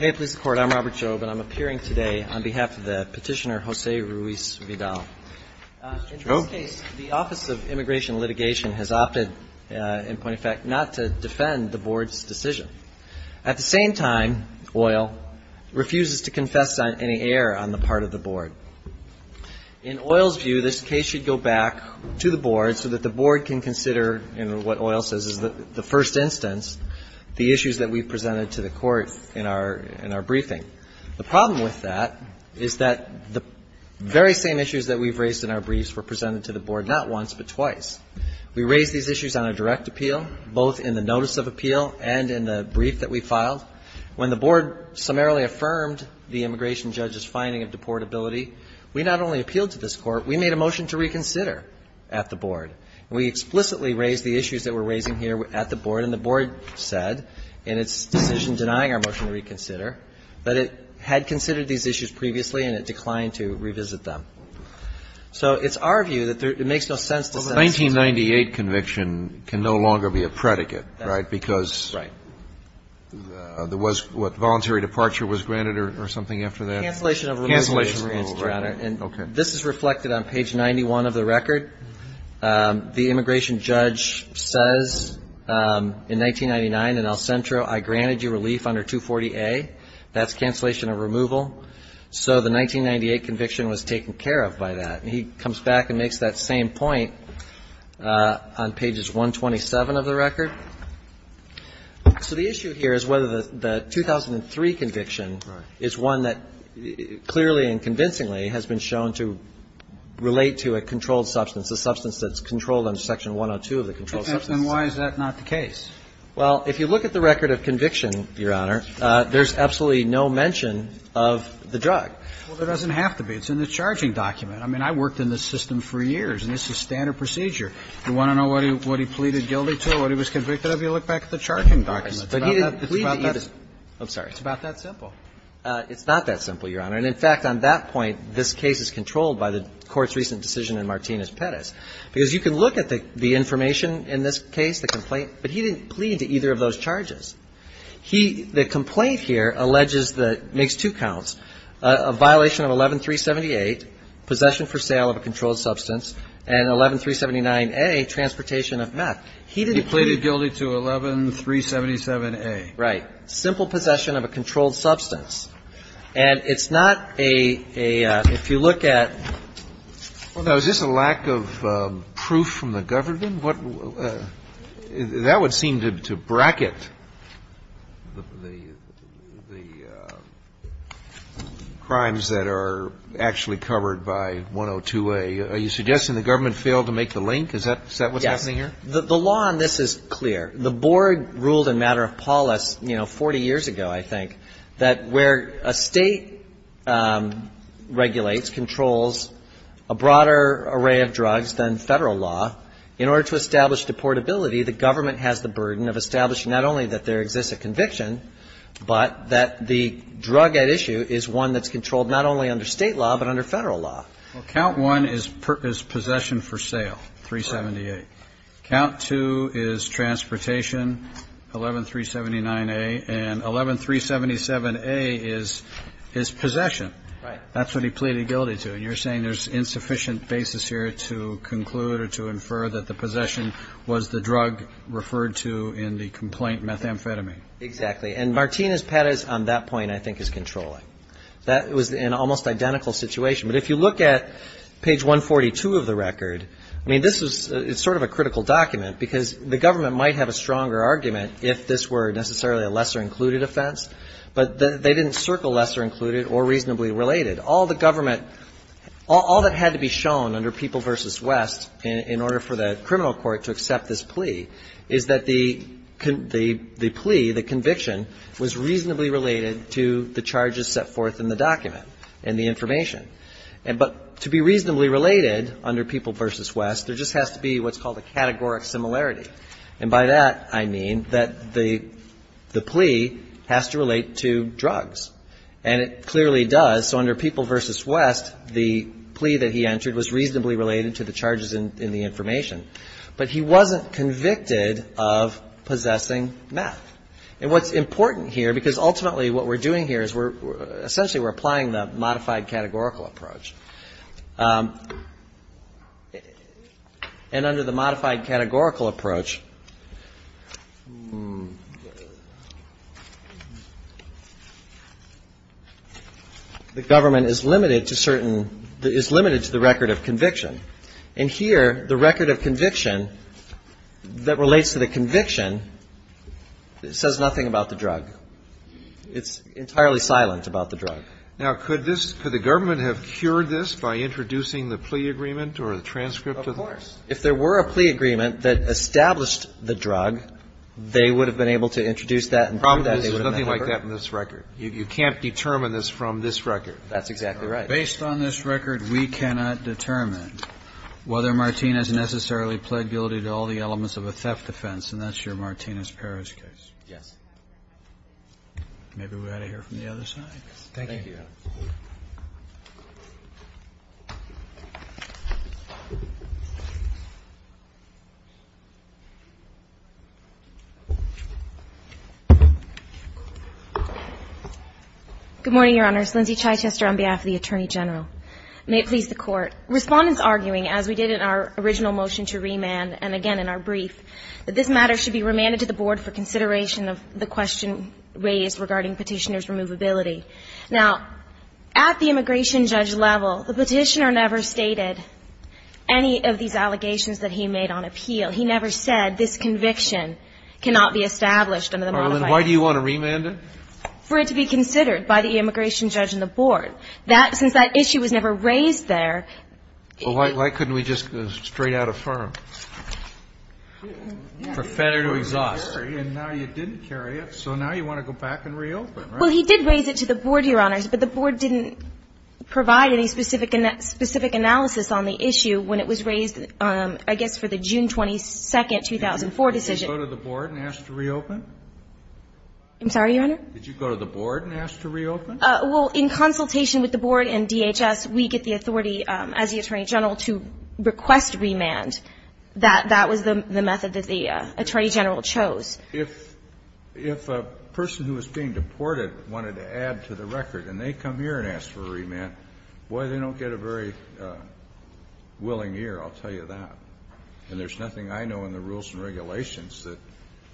In this case, the Office of Immigration Litigation has opted not to defend the Board's decision. At the same time, Oyl refuses to confess any error on the part of the Board. In Oyl's view, this case should go back to the Board so that the Board can consider, in what Oyl says is the first instance, the issues that we've presented to the Court in our briefing. The problem with that is that the very same issues that we've raised in our briefs were presented to the Board not once but twice. We raised these issues on a direct appeal, both in the notice of appeal and in the brief that we filed. When the Board summarily affirmed the immigration judge's finding of deportability, we not only appealed to this Court, we made a motion to reconsider at the Board. And we explicitly raised the issues that we're raising here at the Board, and the Board said in its decision denying our motion to reconsider that it had considered these issues previously and it declined to revisit them. So it's our view that there — it makes no sense to send this to the Court. And I'm not going to go into the details of that, but I'm going to point out that the 1998 conviction can no longer be a predicate, right, because there was what, voluntary departure was granted or something after that? Cancellation of removal, Your Honor. And this is reflected on page 91 of the record. The immigration judge says in 1999 in El Centro, I granted you relief under 240A. That's cancellation of removal. So the 1998 conviction was taken care of by that. And he comes back and makes that same point on pages 127 of the record. So the issue here is whether the 2003 conviction is one that clearly and convincingly has been shown to relate to a controlled substance, a substance that's controlled under Section 102 of the Controlled Substances Act. And why is that not the case? Well, if you look at the record of conviction, Your Honor, there's absolutely no mention of the drug. Well, there doesn't have to be. It's in the charging document. I mean, I worked in this system for years, and this is standard procedure. You want to know what he pleaded guilty to, what he was convicted of, you look back at the charging document. It's about that. I'm sorry. It's about that simple. It's not that simple, Your Honor. And in fact, on that point, this case is controlled by the Court's recent decision in Martinez-Perez, because you can look at the information in this case, the complaint, but he didn't plead to either of those charges. He, the complaint here, alleges that, makes two counts, a violation of 11378, possession for sale of a controlled substance, and 11379A, transportation of meth. He didn't plead. He pleaded guilty to 11377A. Right. Simple possession of a controlled substance. And it's not a, if you look at. Well, now, is this a lack of proof from the government? That would seem to bracket the crimes that are actually covered by 102A. Are you suggesting the government failed to make the link? Is that what's happening here? Yes. The law on this is clear. The Board ruled in matter of polis, you know, 40 years ago, I think, that where a State regulates, controls a broader array of drugs than Federal law, in order to establish deportability, the government has the burden of establishing not only that there exists a conviction, but that the drug at issue is one that's controlled not only under State law, but under Federal law. Well, count one is possession for sale, 378. Count two is transportation, 11379A. And 11377A is possession. Right. That's what he pleaded guilty to. And you're saying there's insufficient basis here to conclude or to infer that the possession was the drug referred to in the complaint methamphetamine. Exactly. And Martinez-Perez on that point, I think, is controlling. That was an almost identical situation. But if you look at page 142 of the record, I mean, this is sort of a critical document, because the government might have a stronger argument if this were necessarily a lesser included offense. But they didn't circle lesser included or reasonably related. All the government – all that had to be shown under People v. West in order for the criminal court to accept this plea is that the plea, the conviction, was reasonably related to the charges set forth in the document and the information. But to be reasonably related under People v. West, there just has to be what's called a categoric similarity. And by that, I mean that the plea has to relate to drugs. And it clearly does. So under People v. West, the plea that he entered was reasonably related to the charges in the information. But he wasn't convicted of possessing meth. And what's important here, because ultimately what we're doing here is we're – essentially we're applying the modified categorical approach. And under the modified categorical approach, the government is limited to certain – is limited to the record of conviction. And here, the record of conviction that relates to the conviction says nothing about the drug. It's entirely silent about the drug. Kennedy. If there were a plea agreement that established the drug, they would have been able to introduce that and prove that they would have met the record? There's nothing like that in this record. You can't determine this from this record. That's exactly right. Based on this record, we cannot determine whether Martinez necessarily pled guilty to all the elements of a theft offense. And that's your Martinez-Perez case. Yes. Maybe we ought to hear from the other side. Thank you. Good morning, Your Honors. Lindsay Chichester on behalf of the Attorney General. May it please the Court. Respondents arguing, as we did in our original motion to remand and again in our brief, that this matter should be remanded to the Board for consideration of the question raised regarding Petitioner's Removability. Now, at the immigration judge level, the Petitioner never stated any of these allegations that he made on appeal. He never said this conviction cannot be established under the modified statute. Why do you want to remand it? For it to be considered by the immigration judge and the Board. That, since that issue was never raised there. Well, why couldn't we just go straight out of firm? For fetter to exhaust. And now you didn't carry it, so now you want to go back and reopen, right? Well, he did raise it to the Board, Your Honors, but the Board didn't provide any specific analysis on the issue when it was raised, I guess, for the June 22nd, 2004 decision. Did you go to the Board and ask to reopen? I'm sorry, Your Honor? Did you go to the Board and ask to reopen? Well, in consultation with the Board and DHS, we get the authority as the Attorney General to request remand. That was the method that the Attorney General chose. If a person who was being deported wanted to add to the record and they come here and ask for remand, boy, they don't get a very willing ear, I'll tell you that. And there's nothing I know in the rules and regulations that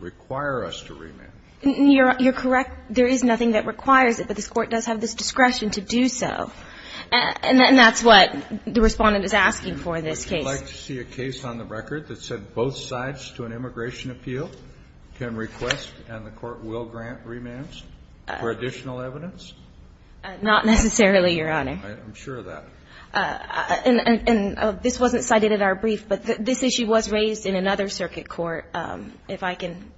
require us to remand. You're correct. There is nothing that requires it, but this Court does have this discretion to do so. And that's what the Respondent is asking for in this case. Would you like to see a case on the record that said both sides to an immigration appeal can request and the Court will grant remands for additional evidence? Not necessarily, Your Honor. I'm sure of that. And this wasn't cited in our brief, but this issue was raised in another circuit court, if I can.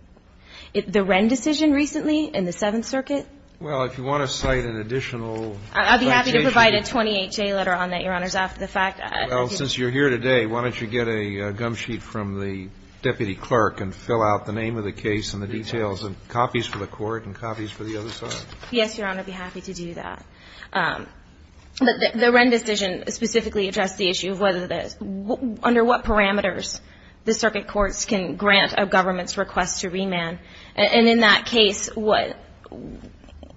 The Wren decision recently in the Seventh Circuit. Well, if you want to cite an additional citation. I'll be happy to provide a 28-J letter on that, Your Honors, after the fact. Well, since you're here today, why don't you get a gum sheet from the deputy clerk and fill out the name of the case and the details and copies for the Court and copies for the other side. Yes, Your Honor. I'd be happy to do that. The Wren decision specifically addressed the issue of whether the under what parameters the circuit courts can grant a government's request to remand. And in that case, what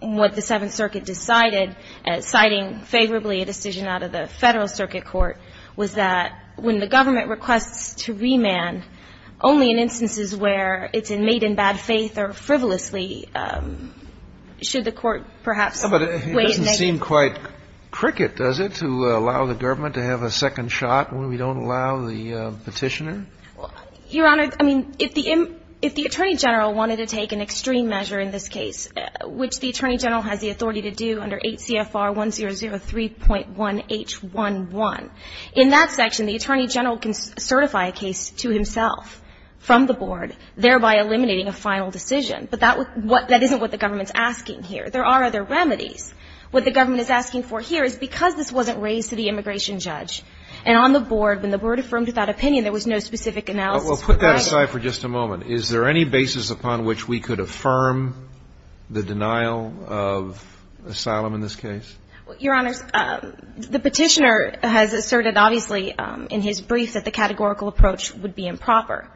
the Seventh Circuit decided, citing favorably a decision out of the Federal Circuit Court, was that when the government requests to remand only in instances where it's made in bad faith or frivolously, should the Court perhaps wait. But it doesn't seem quite cricket, does it, to allow the government to have a second shot when we don't allow the Petitioner? Your Honor, I mean, if the Attorney General wanted to take an extreme measure in this In that section, the Attorney General can certify a case to himself from the Board, thereby eliminating a final decision. But that isn't what the government's asking here. There are other remedies. What the government is asking for here is because this wasn't raised to the immigration judge, and on the Board, when the Board affirmed that opinion, there was no specific analysis provided. Well, put that aside for just a moment. Is there any basis upon which we could affirm the denial of asylum in this case? Well, Your Honor, the Petitioner has asserted, obviously, in his brief, that the categorical approach would be improper.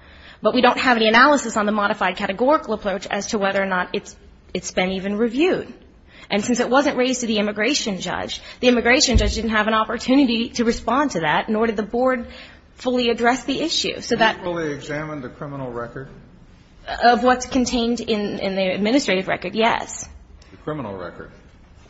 But we don't have any analysis on the modified categorical approach as to whether or not it's been even reviewed. And since it wasn't raised to the immigration judge, the immigration judge didn't have an opportunity to respond to that, nor did the Board fully address the issue. So that Can you fully examine the criminal record? Of what's contained in the administrative record, yes. The criminal record.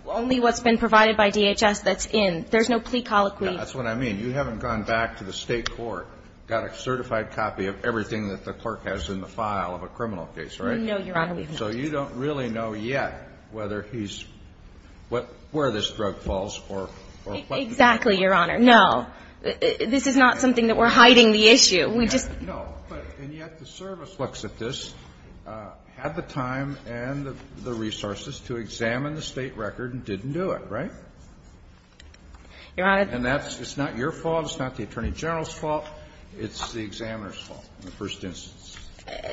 Only what's been provided by DHS that's in. There's no plea colloquy. That's what I mean. You haven't gone back to the State court, got a certified copy of everything that the clerk has in the file of a criminal case, right? No, Your Honor. So you don't really know yet whether he's – where this drug falls or what the drug falls. Exactly, Your Honor. This is not something that we're hiding the issue. We just – Well, and yet the service looks at this, had the time and the resources to examine the State record and didn't do it, right? Your Honor. And that's – it's not your fault, it's not the Attorney General's fault, it's the examiner's fault in the first instance.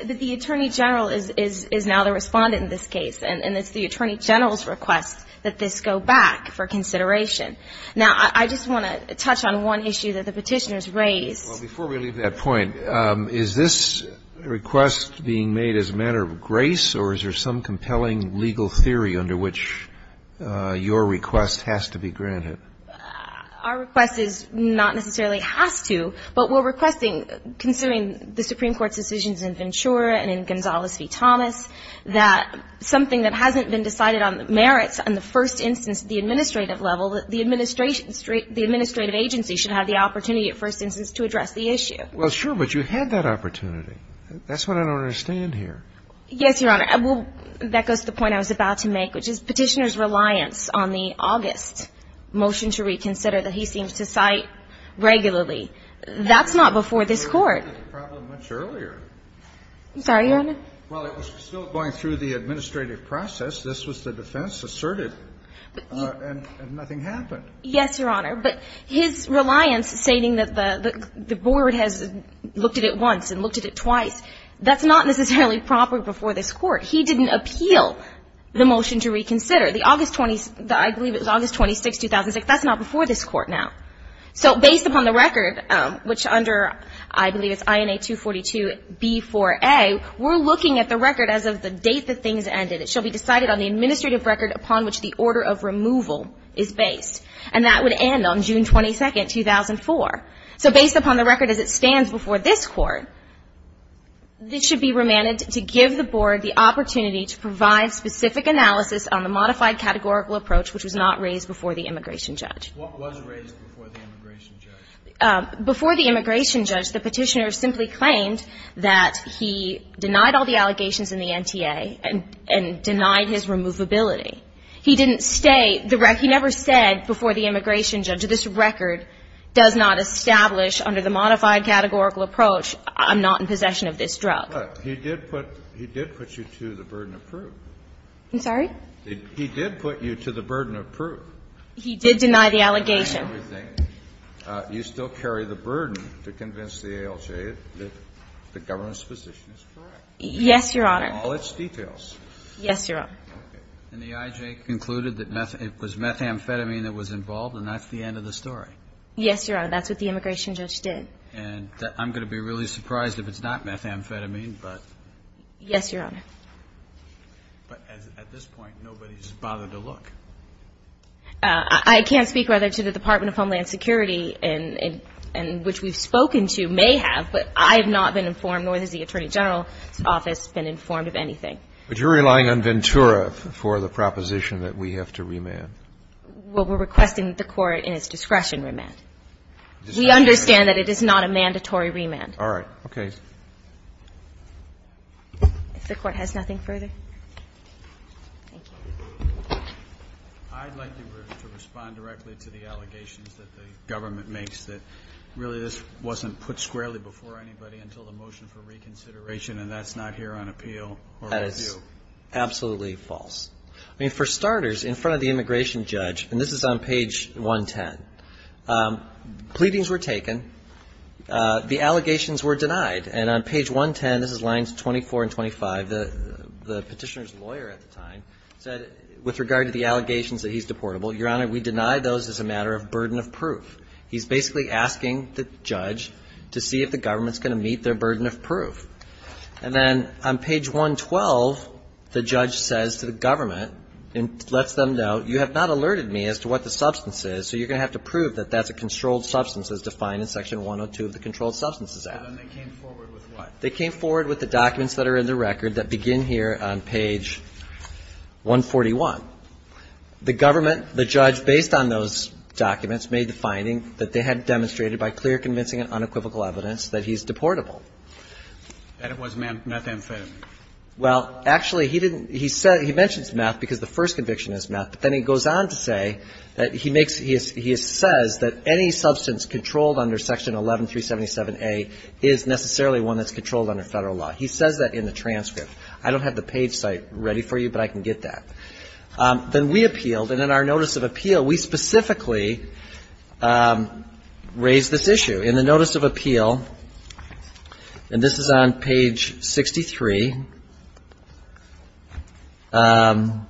But the Attorney General is now the Respondent in this case, and it's the Attorney General's request that this go back for consideration. Now, I just want to touch on one issue that the Petitioners raised. Well, before we leave that point, is this request being made as a matter of grace or is there some compelling legal theory under which your request has to be granted? Our request is not necessarily has to, but we're requesting, considering the Supreme Court's decisions in Ventura and in Gonzales v. Thomas, that something that hasn't been decided on the merits on the first instance at the administrative level, that the administrative agency should have the opportunity at first instance to address the issue. Well, sure, but you had that opportunity. That's what I don't understand here. Yes, Your Honor. Well, that goes to the point I was about to make, which is Petitioner's reliance on the August motion to reconsider that he seems to cite regularly. That's not before this Court. I'm sorry, Your Honor. Well, it was still going through the administrative process. This was the defense asserted, and nothing happened. Yes, Your Honor. But his reliance stating that the Board has looked at it once and looked at it twice, that's not necessarily proper before this Court. He didn't appeal the motion to reconsider. The August 26th, 2006, that's not before this Court now. So based upon the record, which under, I believe it's INA 242b4a, we're looking at the record as of the date that things ended. It shall be decided on the administrative record upon which the order of removal is based. And that would end on June 22nd, 2004. So based upon the record as it stands before this Court, this should be remanded to give the Board the opportunity to provide specific analysis on the modified categorical approach which was not raised before the immigration judge. What was raised before the immigration judge? Before the immigration judge, the Petitioner simply claimed that he denied all the allegations and denied his removability. He didn't state the record. He never said before the immigration judge, this record does not establish under the modified categorical approach I'm not in possession of this drug. But he did put you to the burden of proof. I'm sorry? He did put you to the burden of proof. He did deny the allegation. You still carry the burden to convince the ALJ that the government's position is correct. Yes, Your Honor. In all its details. Yes, Your Honor. And the IJ concluded that it was methamphetamine that was involved, and that's the end of the story. Yes, Your Honor. That's what the immigration judge did. And I'm going to be really surprised if it's not methamphetamine, but. Yes, Your Honor. But at this point, nobody's bothered to look. I can't speak, rather, to the Department of Homeland Security, and which we've spoken to may have, but I have not been informed, nor has the Attorney General's office been informed of anything. But you're relying on Ventura for the proposition that we have to remand. Well, we're requesting that the Court, in its discretion, remand. We understand that it is not a mandatory remand. All right. Okay. If the Court has nothing further. Thank you. I'd like to respond directly to the allegations that the government makes that really this wasn't put squarely before anybody until the motion for reconsideration, and that's not here on appeal. That is absolutely false. I mean, for starters, in front of the immigration judge, and this is on page 110, pleadings were taken. The allegations were denied. And on page 110, this is lines 24 and 25, the Petitioner's lawyer at the time said, with regard to the allegations that he's deportable, Your Honor, we deny those as a matter of burden of proof. He's basically asking the judge to see if the government's going to meet their burden of proof. And then on page 112, the judge says to the government and lets them know, you have not alerted me as to what the substance is, so you're going to have to prove that that's a controlled substance, as defined in section 102 of the Controlled Substances Act. And then they came forward with what? They came forward with the documents that are in the record that begin here on page 141. The government, the judge, based on those documents, made the finding that they had demonstrated by clear, convincing and unequivocal evidence that he's deportable. And it was methamphetamine. Well, actually, he didn't he said he mentions meth because the first conviction is meth. But then he goes on to say that he makes he says that any substance controlled under section 11377A is necessarily one that's controlled under Federal law. He says that in the transcript. I don't have the page cite ready for you, but I can get that. Then we appealed. And in our notice of appeal, we specifically raised this issue. In the notice of appeal, and this is on page 63, and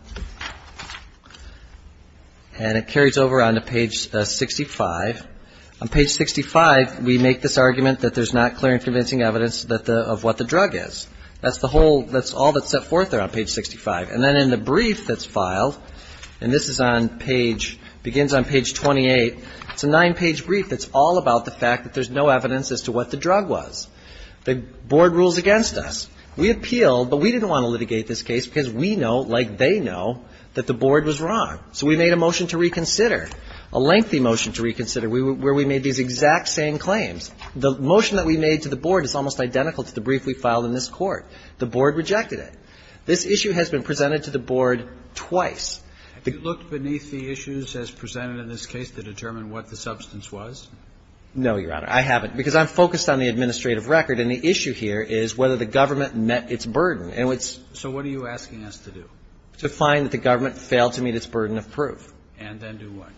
it carries over onto page 65. On page 65, we make this argument that there's not clear and convincing evidence of what the drug is. That's the whole that's all that's set forth there on page 65. And then in the brief that's filed, and this is on page begins on page 28, it's a nine-page brief that's all about the fact that there's no evidence as to what the drug was. The board rules against us. We appealed, but we didn't want to litigate this case because we know, like they know, that the board was wrong. So we made a motion to reconsider, a lengthy motion to reconsider, where we made these exact same claims. The motion that we made to the board is almost identical to the brief we filed in this court. The board rejected it. This issue has been presented to the board twice. Kennedy. If you look beneath the issues as presented in this case to determine what the substance was? No, Your Honor. I haven't, because I'm focused on the administrative record. And the issue here is whether the government met its burden. And it's So what are you asking us to do? To find that the government failed to meet its burden of proof. And then do what?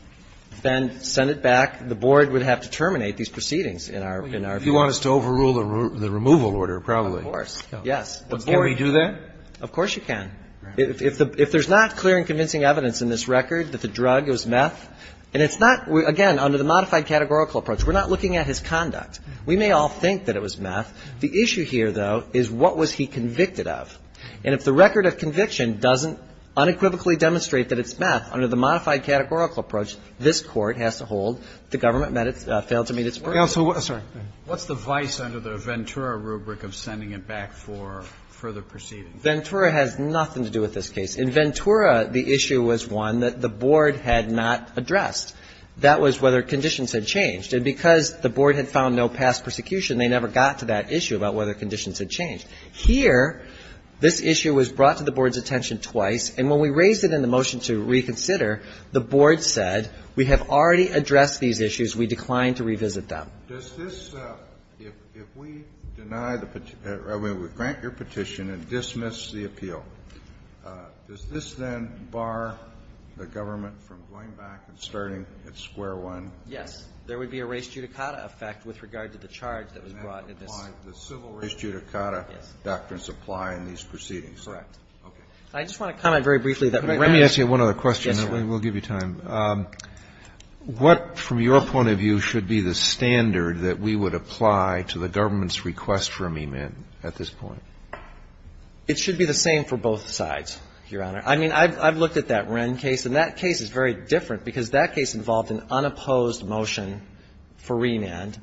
Then send it back. The board would have to terminate these proceedings in our view. If you want us to overrule the removal order, probably. Of course. Yes. Can we do that? Of course you can. If there's not clear and convincing evidence in this record that the drug was meth, and it's not, again, under the modified categorical approach, we're not looking at his conduct. We may all think that it was meth. The issue here, though, is what was he convicted of. And if the record of conviction doesn't unequivocally demonstrate that it's meth, under the modified categorical approach, this Court has to hold the government met its, failed to meet its burden. Counsel, sorry. What's the vice under the Ventura rubric of sending it back for further proceedings? Ventura has nothing to do with this case. In Ventura, the issue was one that the board had not addressed. That was whether conditions had changed. And because the board had found no past persecution, they never got to that issue about whether conditions had changed. Here, this issue was brought to the board's attention twice. And when we raised it in the motion to reconsider, the board said, we have already addressed these issues. We decline to revisit them. Does this, if we deny the, I mean, we grant your petition and dismiss the appeal, does this then bar the government from going back and starting at square one? Yes. There would be a res judicata effect with regard to the charge that was brought in this. And that would apply to the civil res judicata. Yes. Doctrines apply in these proceedings. Correct. Okay. I just want to comment very briefly. Let me ask you one other question. Yes, sir. We'll give you time. What, from your point of view, should be the standard that we would apply to the government's request for amendment at this point? It should be the same for both sides, Your Honor. I mean, I've looked at that Wren case. And that case is very different because that case involved an unopposed motion for remand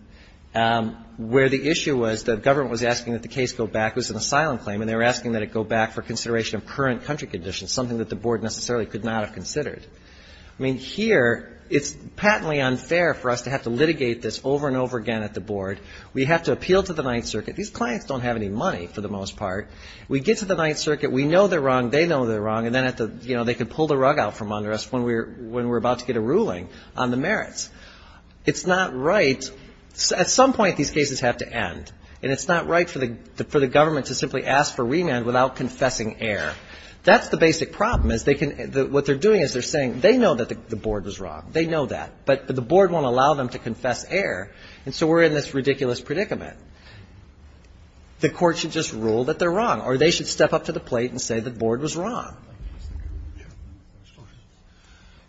where the issue was the government was asking that the case go back. It was an asylum claim. And they were asking that it go back for consideration of current country conditions, something that the board necessarily could not have considered. I mean, here, it's patently unfair for us to have to litigate this over and over again at the board. We have to appeal to the Ninth Circuit. These clients don't have any money, for the most part. We get to the Ninth Circuit. We know they're wrong. They know they're wrong. And then they could pull the rug out from under us when we're about to get a ruling on the merits. It's not right. At some point, these cases have to end. And it's not right for the government to simply ask for remand without confessing error. That's the basic problem, is they can – what they're doing is they're saying they know that the board was wrong. They know that. But the board won't allow them to confess error. And so we're in this ridiculous predicament. The Court should just rule that they're wrong, or they should step up to the plate and say the board was wrong.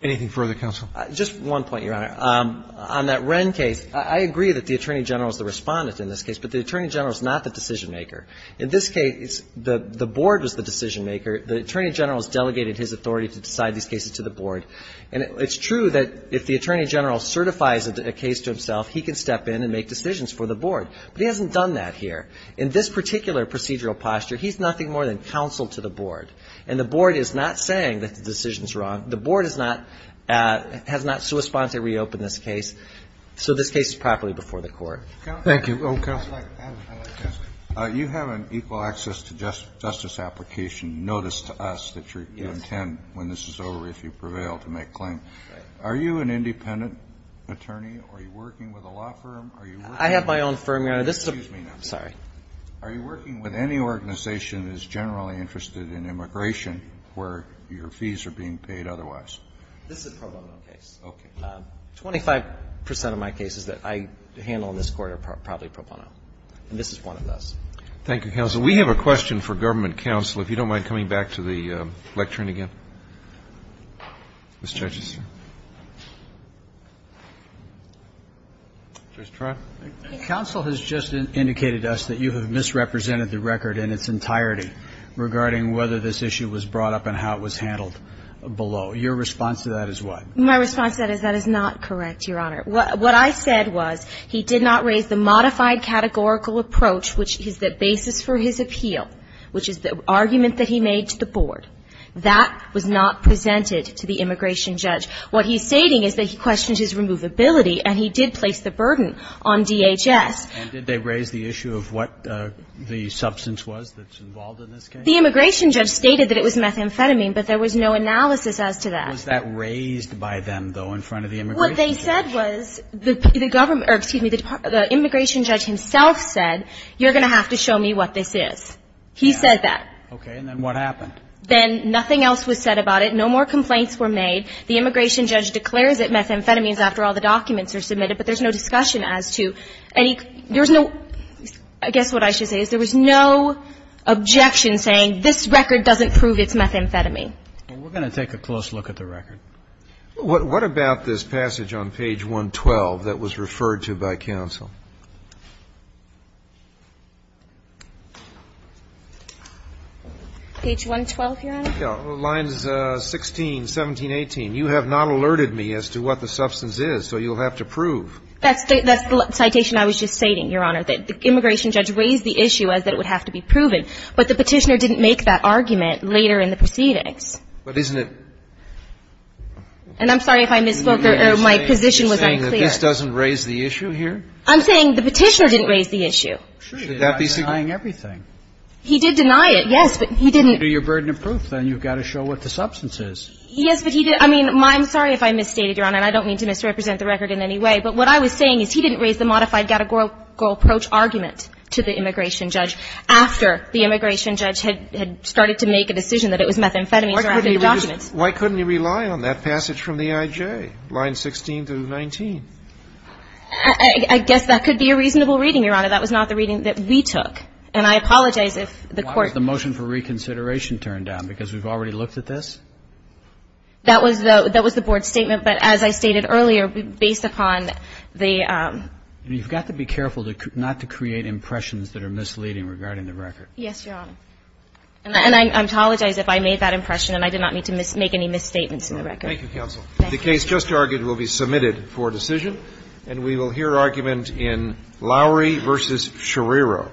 Anything further, counsel? Just one point, Your Honor. On that Wren case, I agree that the Attorney General is the Respondent in this case, but the Attorney General is not the decision-maker. In this case, the board was the decision-maker. The Attorney General has delegated his authority to decide these cases to the board. And it's true that if the Attorney General certifies a case to himself, he can step in and make decisions for the board. But he hasn't done that here. In this particular procedural posture, he's nothing more than counsel to the board. And the board is not saying that the decision is wrong. The board is not – has not sua sponte reopened this case. So this case is properly before the Court. Thank you. Okay. You have an equal access to justice application notice to us that you intend, when this is over, if you prevail, to make claim. Are you an independent attorney? Are you working with a law firm? I have my own firm, Your Honor. This is a – excuse me now. Sorry. Are you working with any organization that is generally interested in immigration where your fees are being paid otherwise? This is a pro bono case. Okay. Twenty-five percent of my cases that I handle in this Court are probably pro bono. And this is one of those. Thank you, counsel. We have a question for Government counsel. If you don't mind coming back to the lectern again. Mr. Justice. Justice Trott. Counsel has just indicated to us that you have misrepresented the record in its entirety regarding whether this issue was brought up and how it was handled below. Your response to that is what? My response to that is that is not correct, Your Honor. What I said was he did not raise the modified categorical approach, which is the basis for his appeal, which is the argument that he made to the board. That was not presented to the immigration judge. What he's stating is that he questions his removability, and he did place the burden on DHS. And did they raise the issue of what the substance was that's involved in this case? The immigration judge stated that it was methamphetamine, but there was no analysis as to that. Was that raised by them, though, in front of the immigration judge? What they said was the government or, excuse me, the immigration judge himself said you're going to have to show me what this is. He said that. Okay. And then what happened? Then nothing else was said about it. No more complaints were made. The immigration judge declares it methamphetamines after all the documents are submitted, but there's no discussion as to any – there's no – I guess what I should say is there was no objection saying this record doesn't prove it's methamphetamine. We're going to take a close look at the record. What about this passage on page 112 that was referred to by counsel? Page 112, Your Honor? Lines 16, 17, 18. You have not alerted me as to what the substance is, so you'll have to prove. That's the citation I was just stating, Your Honor, that the immigration judge raised the issue as that it would have to be proven, but the Petitioner didn't make that case. But isn't it – And I'm sorry if I misspoke or my position was unclear. You're saying that this doesn't raise the issue here? I'm saying the Petitioner didn't raise the issue. Should that be significant? He's denying everything. He did deny it, yes, but he didn't – Do your burden of proof, then. You've got to show what the substance is. Yes, but he didn't – I mean, I'm sorry if I misstated, Your Honor, and I don't mean to misrepresent the record in any way. But what I was saying is he didn't raise the modified categorical approach argument to the immigration judge after the immigration judge had started to make a decision that it was methamphetamines that were added to the documents. Why couldn't he rely on that passage from the IJ, lines 16 through 19? I guess that could be a reasonable reading, Your Honor. That was not the reading that we took. And I apologize if the Court – Why was the motion for reconsideration turned down? Because we've already looked at this? That was the Board's statement. But as I stated earlier, based upon the – You've got to be careful not to create impressions that are misleading regarding the record. Yes, Your Honor. And I apologize if I made that impression and I did not mean to make any misstatements in the record. Thank you, counsel. The case just argued will be submitted for decision. And we will hear argument in Lowery v. Scherriro.